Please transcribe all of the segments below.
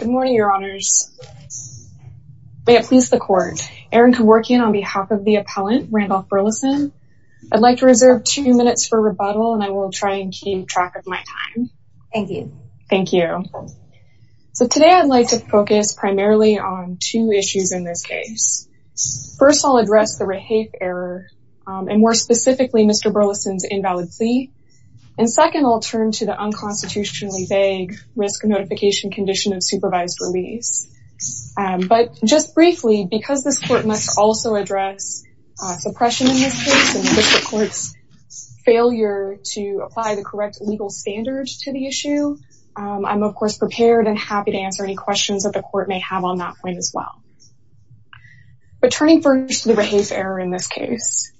Good morning, your honors. May it please the court. Erin can work in on behalf of the appellant, Randolph Burleson. I'd like to reserve two minutes for rebuttal and I will try and keep track of my time. Thank you. Thank you. So today I'd like to focus primarily on two issues in this case. First, I'll address the Rahafe error and, more specifically, Mr. Burleson's invalid plea. And second, I'll turn to the unconstitutionally vague risk of notification condition of supervised release. But just briefly, because this court must also address suppression in this case and the district court's failure to apply the correct legal standards to the issue, I'm of course prepared and happy to answer any questions that the court may have on that point as well. But turning first to the Rahafe error in this case.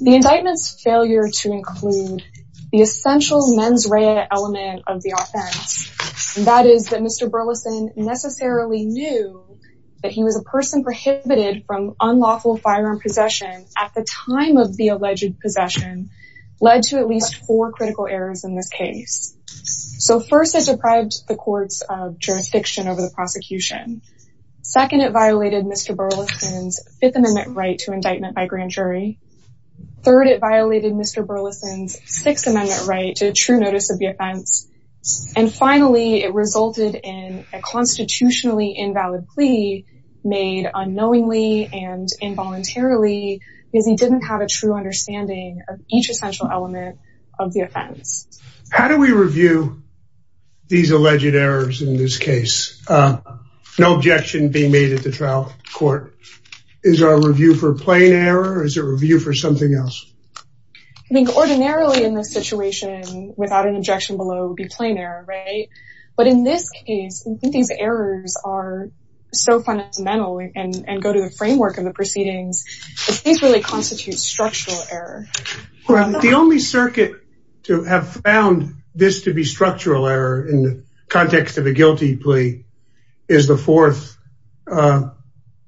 The indictment's failure to include the Burleson necessarily knew that he was a person prohibited from unlawful firearm possession at the time of the alleged possession led to at least four critical errors in this case. So first, it deprived the courts of jurisdiction over the prosecution. Second, it violated Mr. Burleson's Fifth Amendment right to indictment by grand jury. Third, it violated Mr. Burleson's Sixth Amendment right to true notice of the offense. And finally, it resulted in a constitutionally invalid plea made unknowingly and involuntarily because he didn't have a true understanding of each essential element of the offense. How do we review these alleged errors in this case? No objection being made at the trial court. Is there a review for plain error or is there a review for something else? I think ordinarily in this situation, without an objection below, it would be plain error, right? But in this case, I think these errors are so fundamental and go to the framework of the proceedings. These really constitute structural error. The only circuit to have found this to be structural error in the context of a guilty plea is the fourth.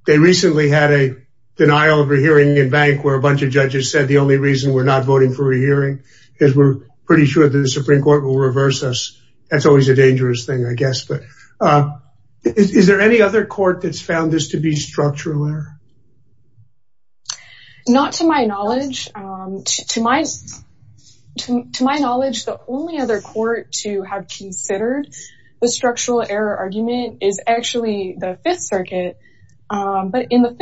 They recently had a denial of a hearing in Bank where a bunch of judges said the only reason we're not voting for a hearing is we're pretty sure that the Supreme Court will reverse us. That's always a dangerous thing, I guess. But is there any other court that's found this to be structural error? Not to my knowledge. To my knowledge, the only other court to have considered the structural error argument is actually the Fifth Circuit. But in the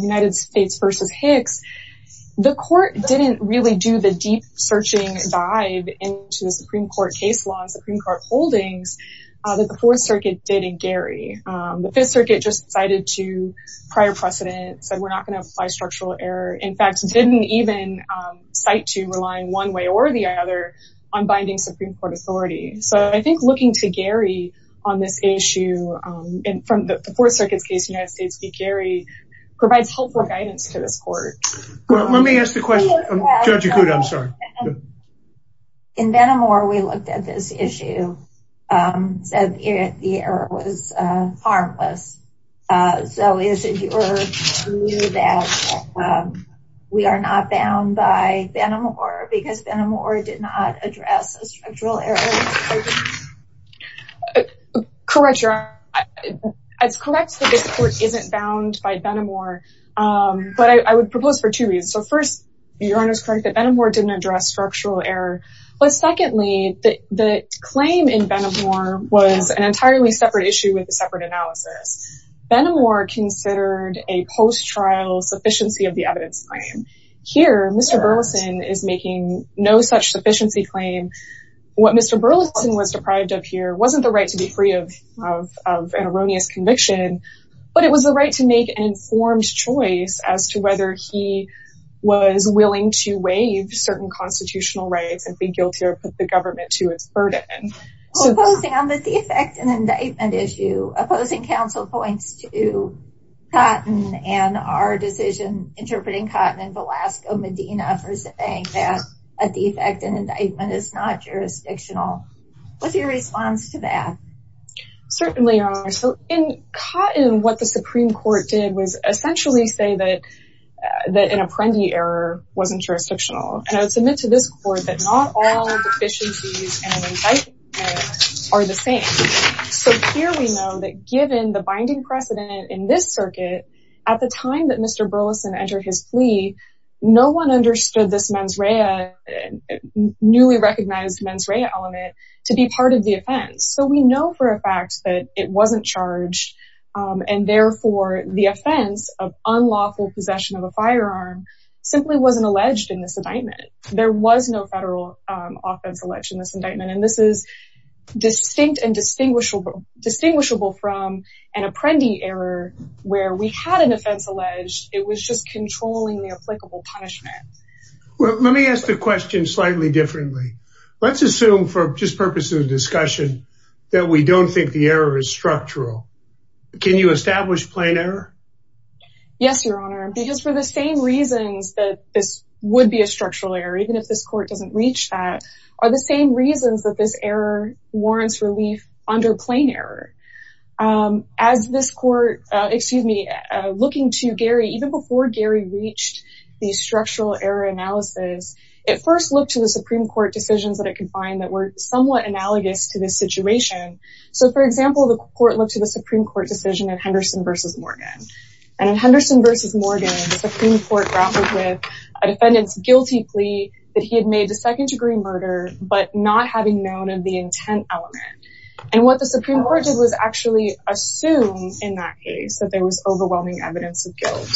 United States v. Hicks, the court didn't really do the deep-searching dive into the Supreme Court case law and Supreme Court holdings that the Fourth Circuit did in Gary. The Fifth Circuit just cited to prior precedent, said we're not going to apply structural error. In fact, didn't even cite to relying one way or the other on binding Supreme Court authority. So I think looking to Gary on this issue from the Fourth Circuit's case in the United States v. Gary provides helpful guidance to this court. Let me ask the question. Judge Yakuda, I'm sorry. In Venomore, we looked at this issue, said the error was harmless. So is it your view that we are not bound by Venomore because Venomore did not address a structural error in this case? Correct, Your Honor. It's correct that this court isn't bound by Venomore. But I would propose for two reasons. So first, Your Honor is correct that Venomore didn't address structural error. But secondly, the claim in Venomore was an entirely separate issue with a separate analysis. Venomore considered a post-trial sufficiency of the evidence claim. Here, Mr. Burleson is making no such sufficiency claim. What Mr. Burleson was deprived of here wasn't the right to be free of an erroneous conviction, but it was the right to make an informed choice as to whether he was willing to waive certain constitutional rights and be guilty or put the government to its burden. Opposing on the defect and indictment issue, opposing counsel points to Cotton and our defect and indictment is not jurisdictional. What's your response to that? Certainly, Your Honor. So in Cotton, what the Supreme Court did was essentially say that an Apprendi error wasn't jurisdictional. And I would submit to this court that not all deficiencies and indictments are the same. So here we know that given the binding precedent in this circuit, at the time that Mr. Burleson entered his plea, no one understood this newly recognized mens rea element to be part of the offense. So we know for a fact that it wasn't charged and therefore the offense of unlawful possession of a firearm simply wasn't alleged in this indictment. There was no federal offense alleged in this indictment. And this is distinct and distinguishable from an offense alleged. It was just controlling the applicable punishment. Well, let me ask the question slightly differently. Let's assume for just purpose of discussion that we don't think the error is structural. Can you establish plain error? Yes, Your Honor. Because for the same reasons that this would be a structural error, even if this court doesn't reach that, are the same reasons that this error warrants relief under plain error. As this court, excuse me, looking to Gary, even before Gary reached the structural error analysis, it first looked to the Supreme Court decisions that it could find that were somewhat analogous to this situation. So for example, the court looked to the Supreme Court decision of Henderson v. Morgan. And in Henderson v. Morgan, the Supreme Court grappled with a defendant's guilty plea that he had made a second degree murder, but not having known of the intent element. And what the Supreme Court did was actually assume in that case that there was overwhelming evidence of guilt,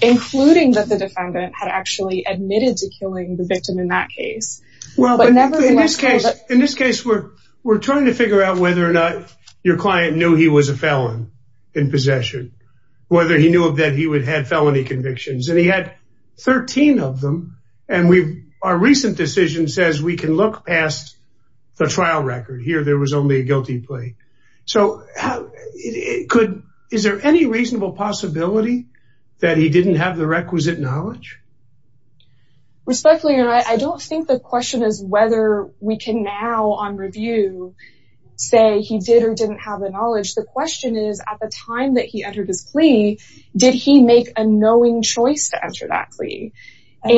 including that the defendant had actually admitted to killing the victim in that case. In this case, we're trying to figure out whether or not your client knew he was a felon in possession, whether he knew that he would have felony convictions. And he had 13 of them. And our recent decision says we can look past the trial record. Here, there was only a guilty plea. So is there any reasonable possibility that he didn't have the requisite knowledge? Respectfully, I don't think the question is whether we can now on review, say he did or didn't have the knowledge. The question is, at the time that he entered his plea, did he make a knowing choice to answer that plea? And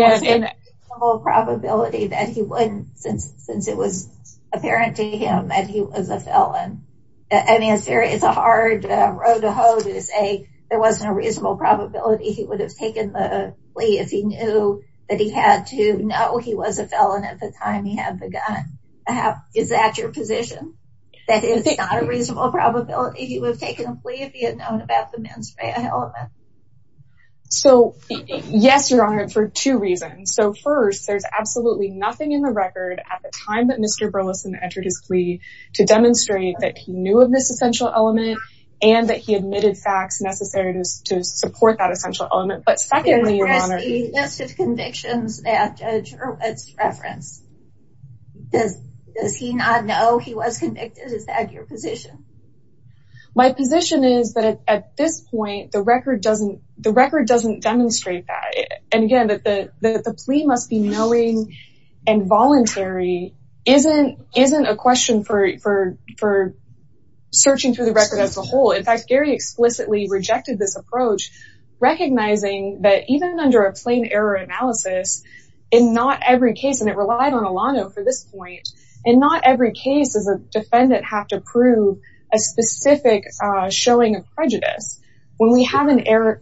the whole probability that he wouldn't since it was apparent to him that he was a felon. I mean, it's very, it's a hard road to hoe to say there wasn't a reasonable probability he would have taken the plea if he knew that he had to know he was a felon at the time he had the gun. Is that your position? That is not a reasonable probability he would have taken a plea if he had known about the mens rea element? So yes, Your Honor, for two reasons. So first, there's absolutely nothing in the record at the time that Mr. Burleson entered his plea to demonstrate that he knew of this essential element and that he admitted facts necessary to support that essential element. But secondly, Your Honor- There's a list of convictions that Judge Hurwitz referenced. Does he not know he was convicted? Is that your position? My position is that at this point, the record doesn't demonstrate that. And again, that the plea must be knowing and voluntary isn't a question for searching through the record as a whole. In fact, Gary explicitly rejected this approach, recognizing that even under a plain error analysis, in not every case, and it relied on Alano for this point, in not every case does a defendant have to prove a specific showing of prejudice. When we have an Yes,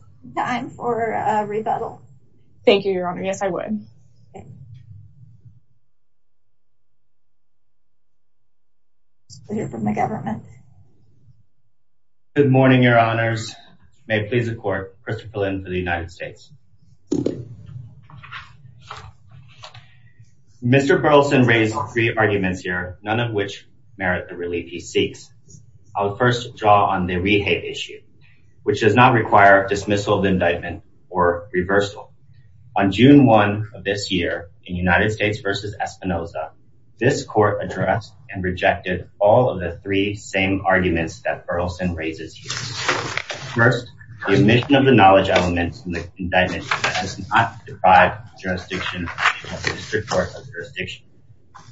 I would hear from the government. Good morning, Your Honors. May it please the court, Christopher Lin for the United States. Mr. Burleson raised three arguments here, none of which merit the relief he seeks. I'll first draw on the rehate issue, which does not require dismissal of indictment or reversal. On June 1 of this year, in United States v. Espinoza, this court addressed and rejected all of the three same arguments that Burleson raises here. First, the omission of the knowledge element in the indictment does not deprive the jurisdiction of the district court of jurisdiction.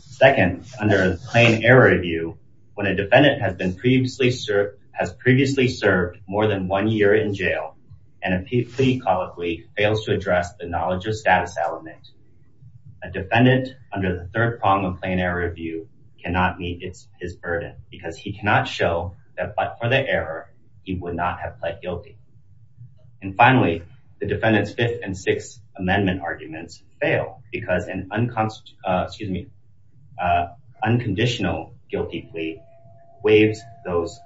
Second, under a plain error review, when a defendant has previously served more than one year in jail, and a plea colloquy fails to address the knowledge of status element, a defendant under the third prong of plain error review cannot meet his burden because he cannot show that but for the error, he would not have pled guilty. And finally, the defendant's fifth and sixth amendment arguments fail because an unconstitutional guilty plea waives those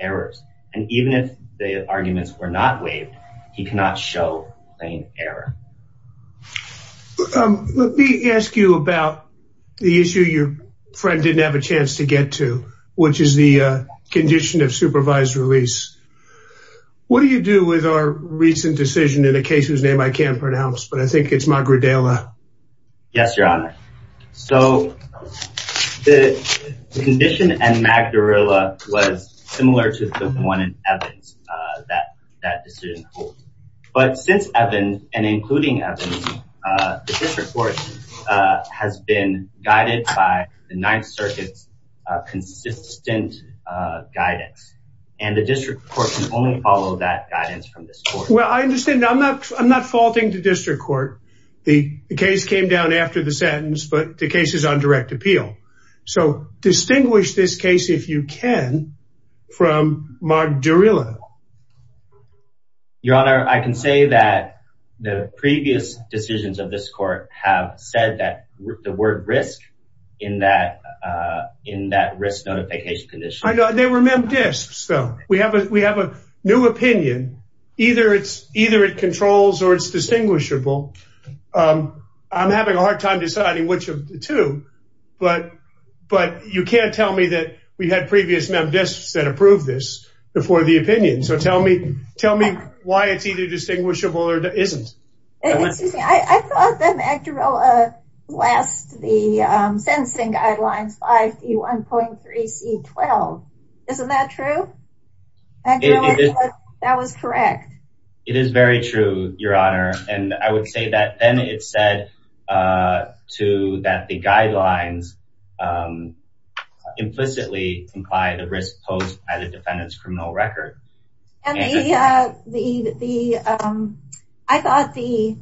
errors. And even if the arguments were not waived, he cannot show plain error. Let me ask you about the issue your friend didn't have a chance to get to, which is the condition of supervised release. What do you do with our recent decision in a case whose name I can't pronounce, but I think it's Magridella? Yes, your honor. So the condition and Magridella was similar to the one in Evans that decision holds. But since Evans, and including Evans, the district court has been guided by the Ninth Circuit's consistent guidance. And the district court can only follow that guidance from this Well, I understand. I'm not faulting the district court. The case came down after the sentence, but the case is on direct appeal. So distinguish this case if you can, from Magridella. Your honor, I can say that the previous decisions of this court have said that the word risk in that risk notification condition. I know they were MemDISPs though. We have a new opinion. Either it controls or it's distinguishable. I'm having a hard time deciding which of the two. But you can't tell me that we had previous MemDISPs that approved this before the opinion. So tell me why it's either distinguishable or isn't. I thought that Magridella last the sentencing guidelines 5E1.3C12. Isn't that true? That was correct. It is very true, your honor. And I would say that then it said to that the guidelines implicitly imply the risk posed by the defendant's criminal record. And I thought the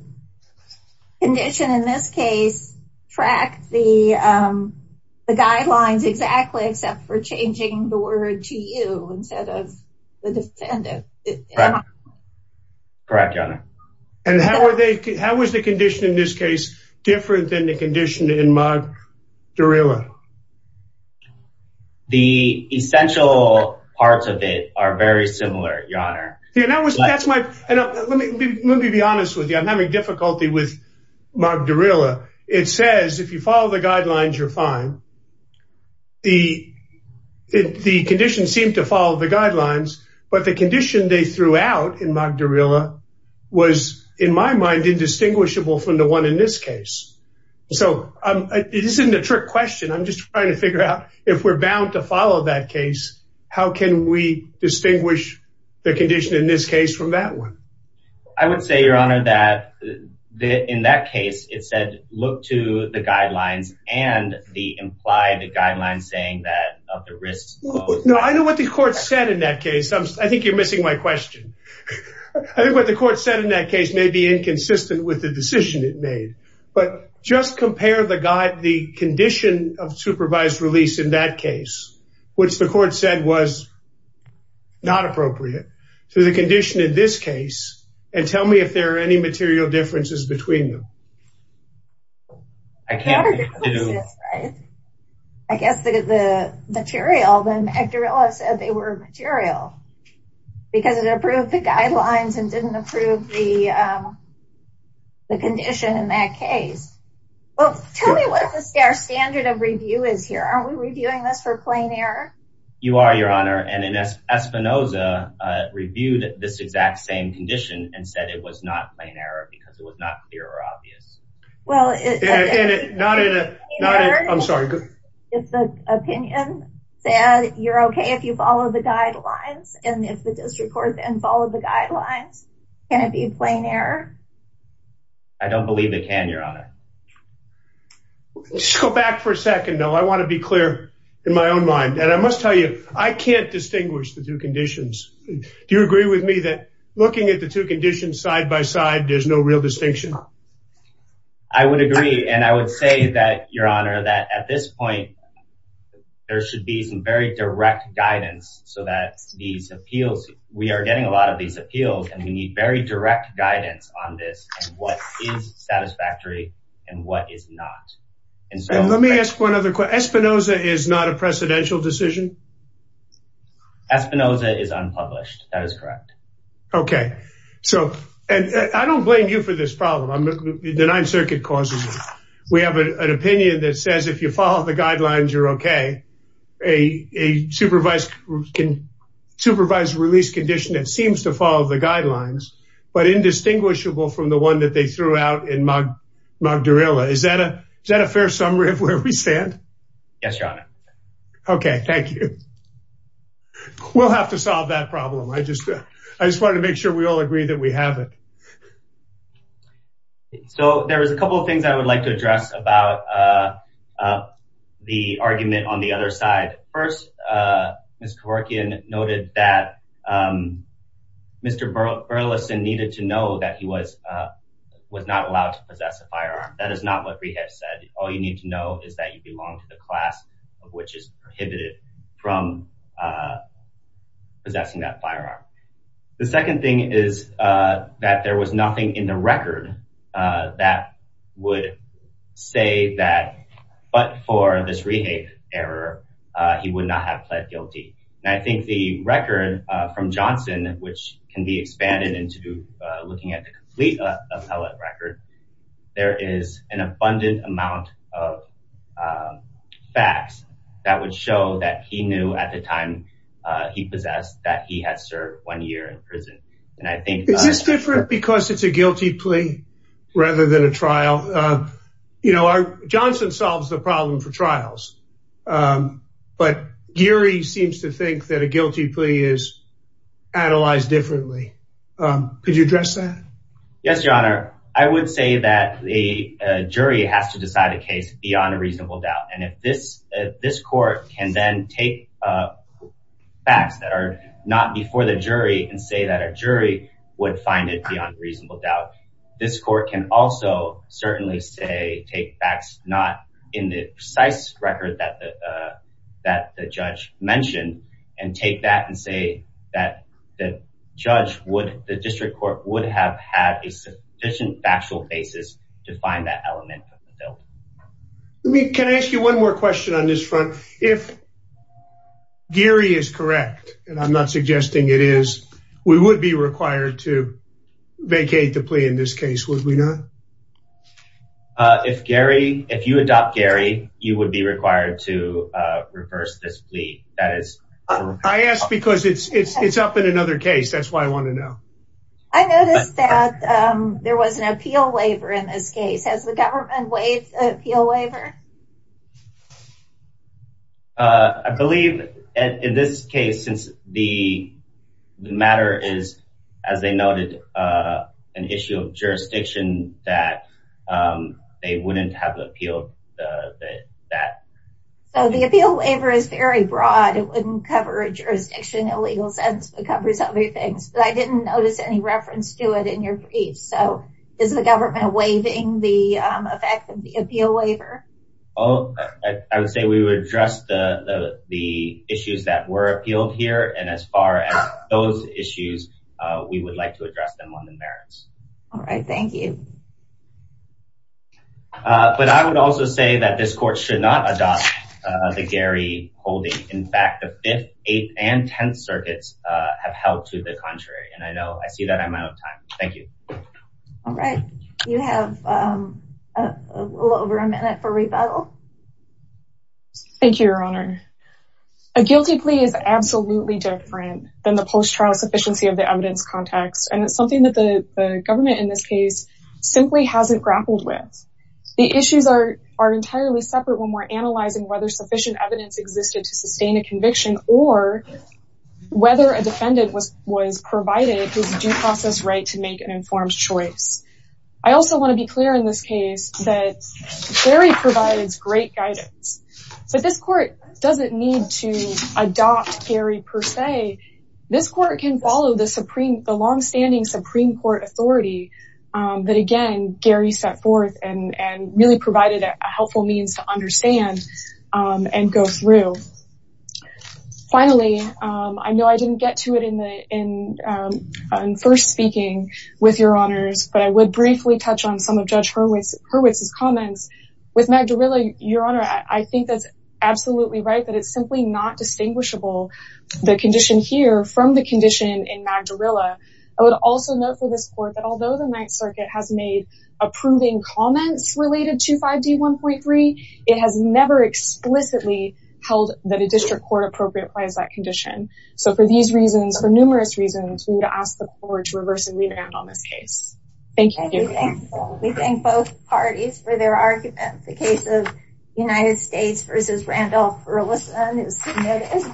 condition in this case tracked the guidelines exactly except for changing the word to you instead of the defendant. Correct, your honor. And how was the condition in this case different than the condition in Magridella? The essential parts of it are very similar, your honor. Yeah, that was that's my, let me be honest with you. I'm having difficulty with Magridella. It says if you follow the guidelines, you're fine. The condition seemed to follow the guidelines, but the condition they threw out in Magridella was in my mind indistinguishable from the in this case. So it isn't a trick question. I'm just trying to figure out if we're bound to follow that case, how can we distinguish the condition in this case from that one? I would say, your honor, that in that case, it said look to the guidelines and the implied guidelines saying that of the risk. No, I know what the court said in that case. I think you're missing my question. I think what the court said in that case may be inconsistent with the decision it made, but just compare the guide, the condition of supervised release in that case, which the court said was not appropriate to the condition in this case, and tell me if there are any material differences between them. I can't. I guess the material, Magridella said they were material because it approved the guidelines and didn't approve the condition in that case. Well, tell me what the standard of review is here. Are we reviewing this for plain error? You are, your honor, and Espinoza reviewed this exact same condition and said it was not well. I'm sorry. If the opinion said you're okay if you follow the guidelines, and if the district court then followed the guidelines, can it be a plain error? I don't believe it can, your honor. Let's go back for a second, though. I want to be clear in my own mind, and I must tell you, I can't distinguish the two conditions. Do you agree with me that looking at the two conditions side by side, there's no real distinction? I would agree, and I would say that, your honor, that at this point, there should be some very direct guidance so that these appeals, we are getting a lot of these appeals, and we need very direct guidance on this and what is satisfactory and what is not. Let me ask one other question. Espinoza is not a precedential decision? Espinoza is unpublished. That is correct. Okay. I don't blame you for this problem. The Ninth Circuit causes it. We have an opinion that says if you follow the guidelines, you're okay. A supervised release condition that seems to follow the guidelines, but indistinguishable from the one that they threw out in Magdarilla. Is that a fair summary of where we stand? Yes, your honor. Okay. Thank you. We'll have to solve that problem. I just wanted to make sure we all agree that we have it. So there was a couple of things I would like to address about the argument on the other side. First, Ms. Kevorkian noted that Mr. Burleson needed to know that he was not allowed to possess a firearm. That is not what we have said. All you need to know is that you belong to the class of which is prohibited from possessing that firearm. The second thing is that there was nothing in the record that would say that, but for this rehape error, he would not have pled guilty. And I think the record from Johnson, which can be expanded into looking at the complete appellate record, there is an abundant amount of facts that would show that he knew at the time he possessed that he had served one year in prison. Is this different because it's a guilty plea rather than a trial? Johnson solves the problem for trials, but Geary seems to think that a guilty plea is analyzed differently. Could you address that? Yes, your honor. I would say that a jury has to decide a case beyond a reasonable doubt. This court can then take facts that are not before the jury and say that a jury would find it beyond reasonable doubt. This court can also certainly say take facts not in the precise record that the judge mentioned and take that and say that the judge would, the district court would have had a sufficient factual basis to find that element of the bill. Let me, can I ask you one more question on this front? If Geary is correct, and I'm not suggesting it is, we would be required to vacate the plea in this case, would we not? If Geary, if you adopt Geary, you would be required to reverse this plea. That is, I asked because it's up in another case. That's why I want to know. I noticed that there was an appeal waiver in this case. Has the government waived the appeal waiver? I believe in this case, since the matter is, as they noted, an issue of jurisdiction that they wouldn't have appealed that. So the appeal waiver is very broad. It didn't notice any reference to it in your brief. So is the government waiving the effect of the appeal waiver? Oh, I would say we would address the issues that were appealed here. And as far as those issues, we would like to address them on the merits. All right. Thank you. But I would also say that this court should not adopt the Geary holding. In fact, the 5th, 8th, and 10th circuits have held to the contrary. And I know I see that I'm out of time. Thank you. All right. You have a little over a minute for rebuttal. Thank you, Your Honor. A guilty plea is absolutely different than the post-trial sufficiency of the evidence context. And it's something that the government in this case simply hasn't grappled with. The issues are entirely separate when we're analyzing whether evidence existed to sustain a conviction or whether a defendant was provided his due process right to make an informed choice. I also want to be clear in this case that Geary provides great guidance. But this court doesn't need to adopt Geary per se. This court can follow the Supreme, the longstanding Supreme Court authority that, again, Geary set forth and really provided a and go through. Finally, I know I didn't get to it in first speaking with Your Honors, but I would briefly touch on some of Judge Hurwitz's comments. With Magdarilla, Your Honor, I think that's absolutely right that it's simply not distinguishable, the condition here, from the condition in Magdarilla. I would also note for this court that although the 9th Circuit has made approving comments related to 5D1.3, it has never explicitly held that a district court appropriate applies that condition. So for these reasons, for numerous reasons, we would ask the court to reverse and revamp on this case. Thank you. We thank both parties for their arguments. The case of United States versus Randolph-Earlison is submitted.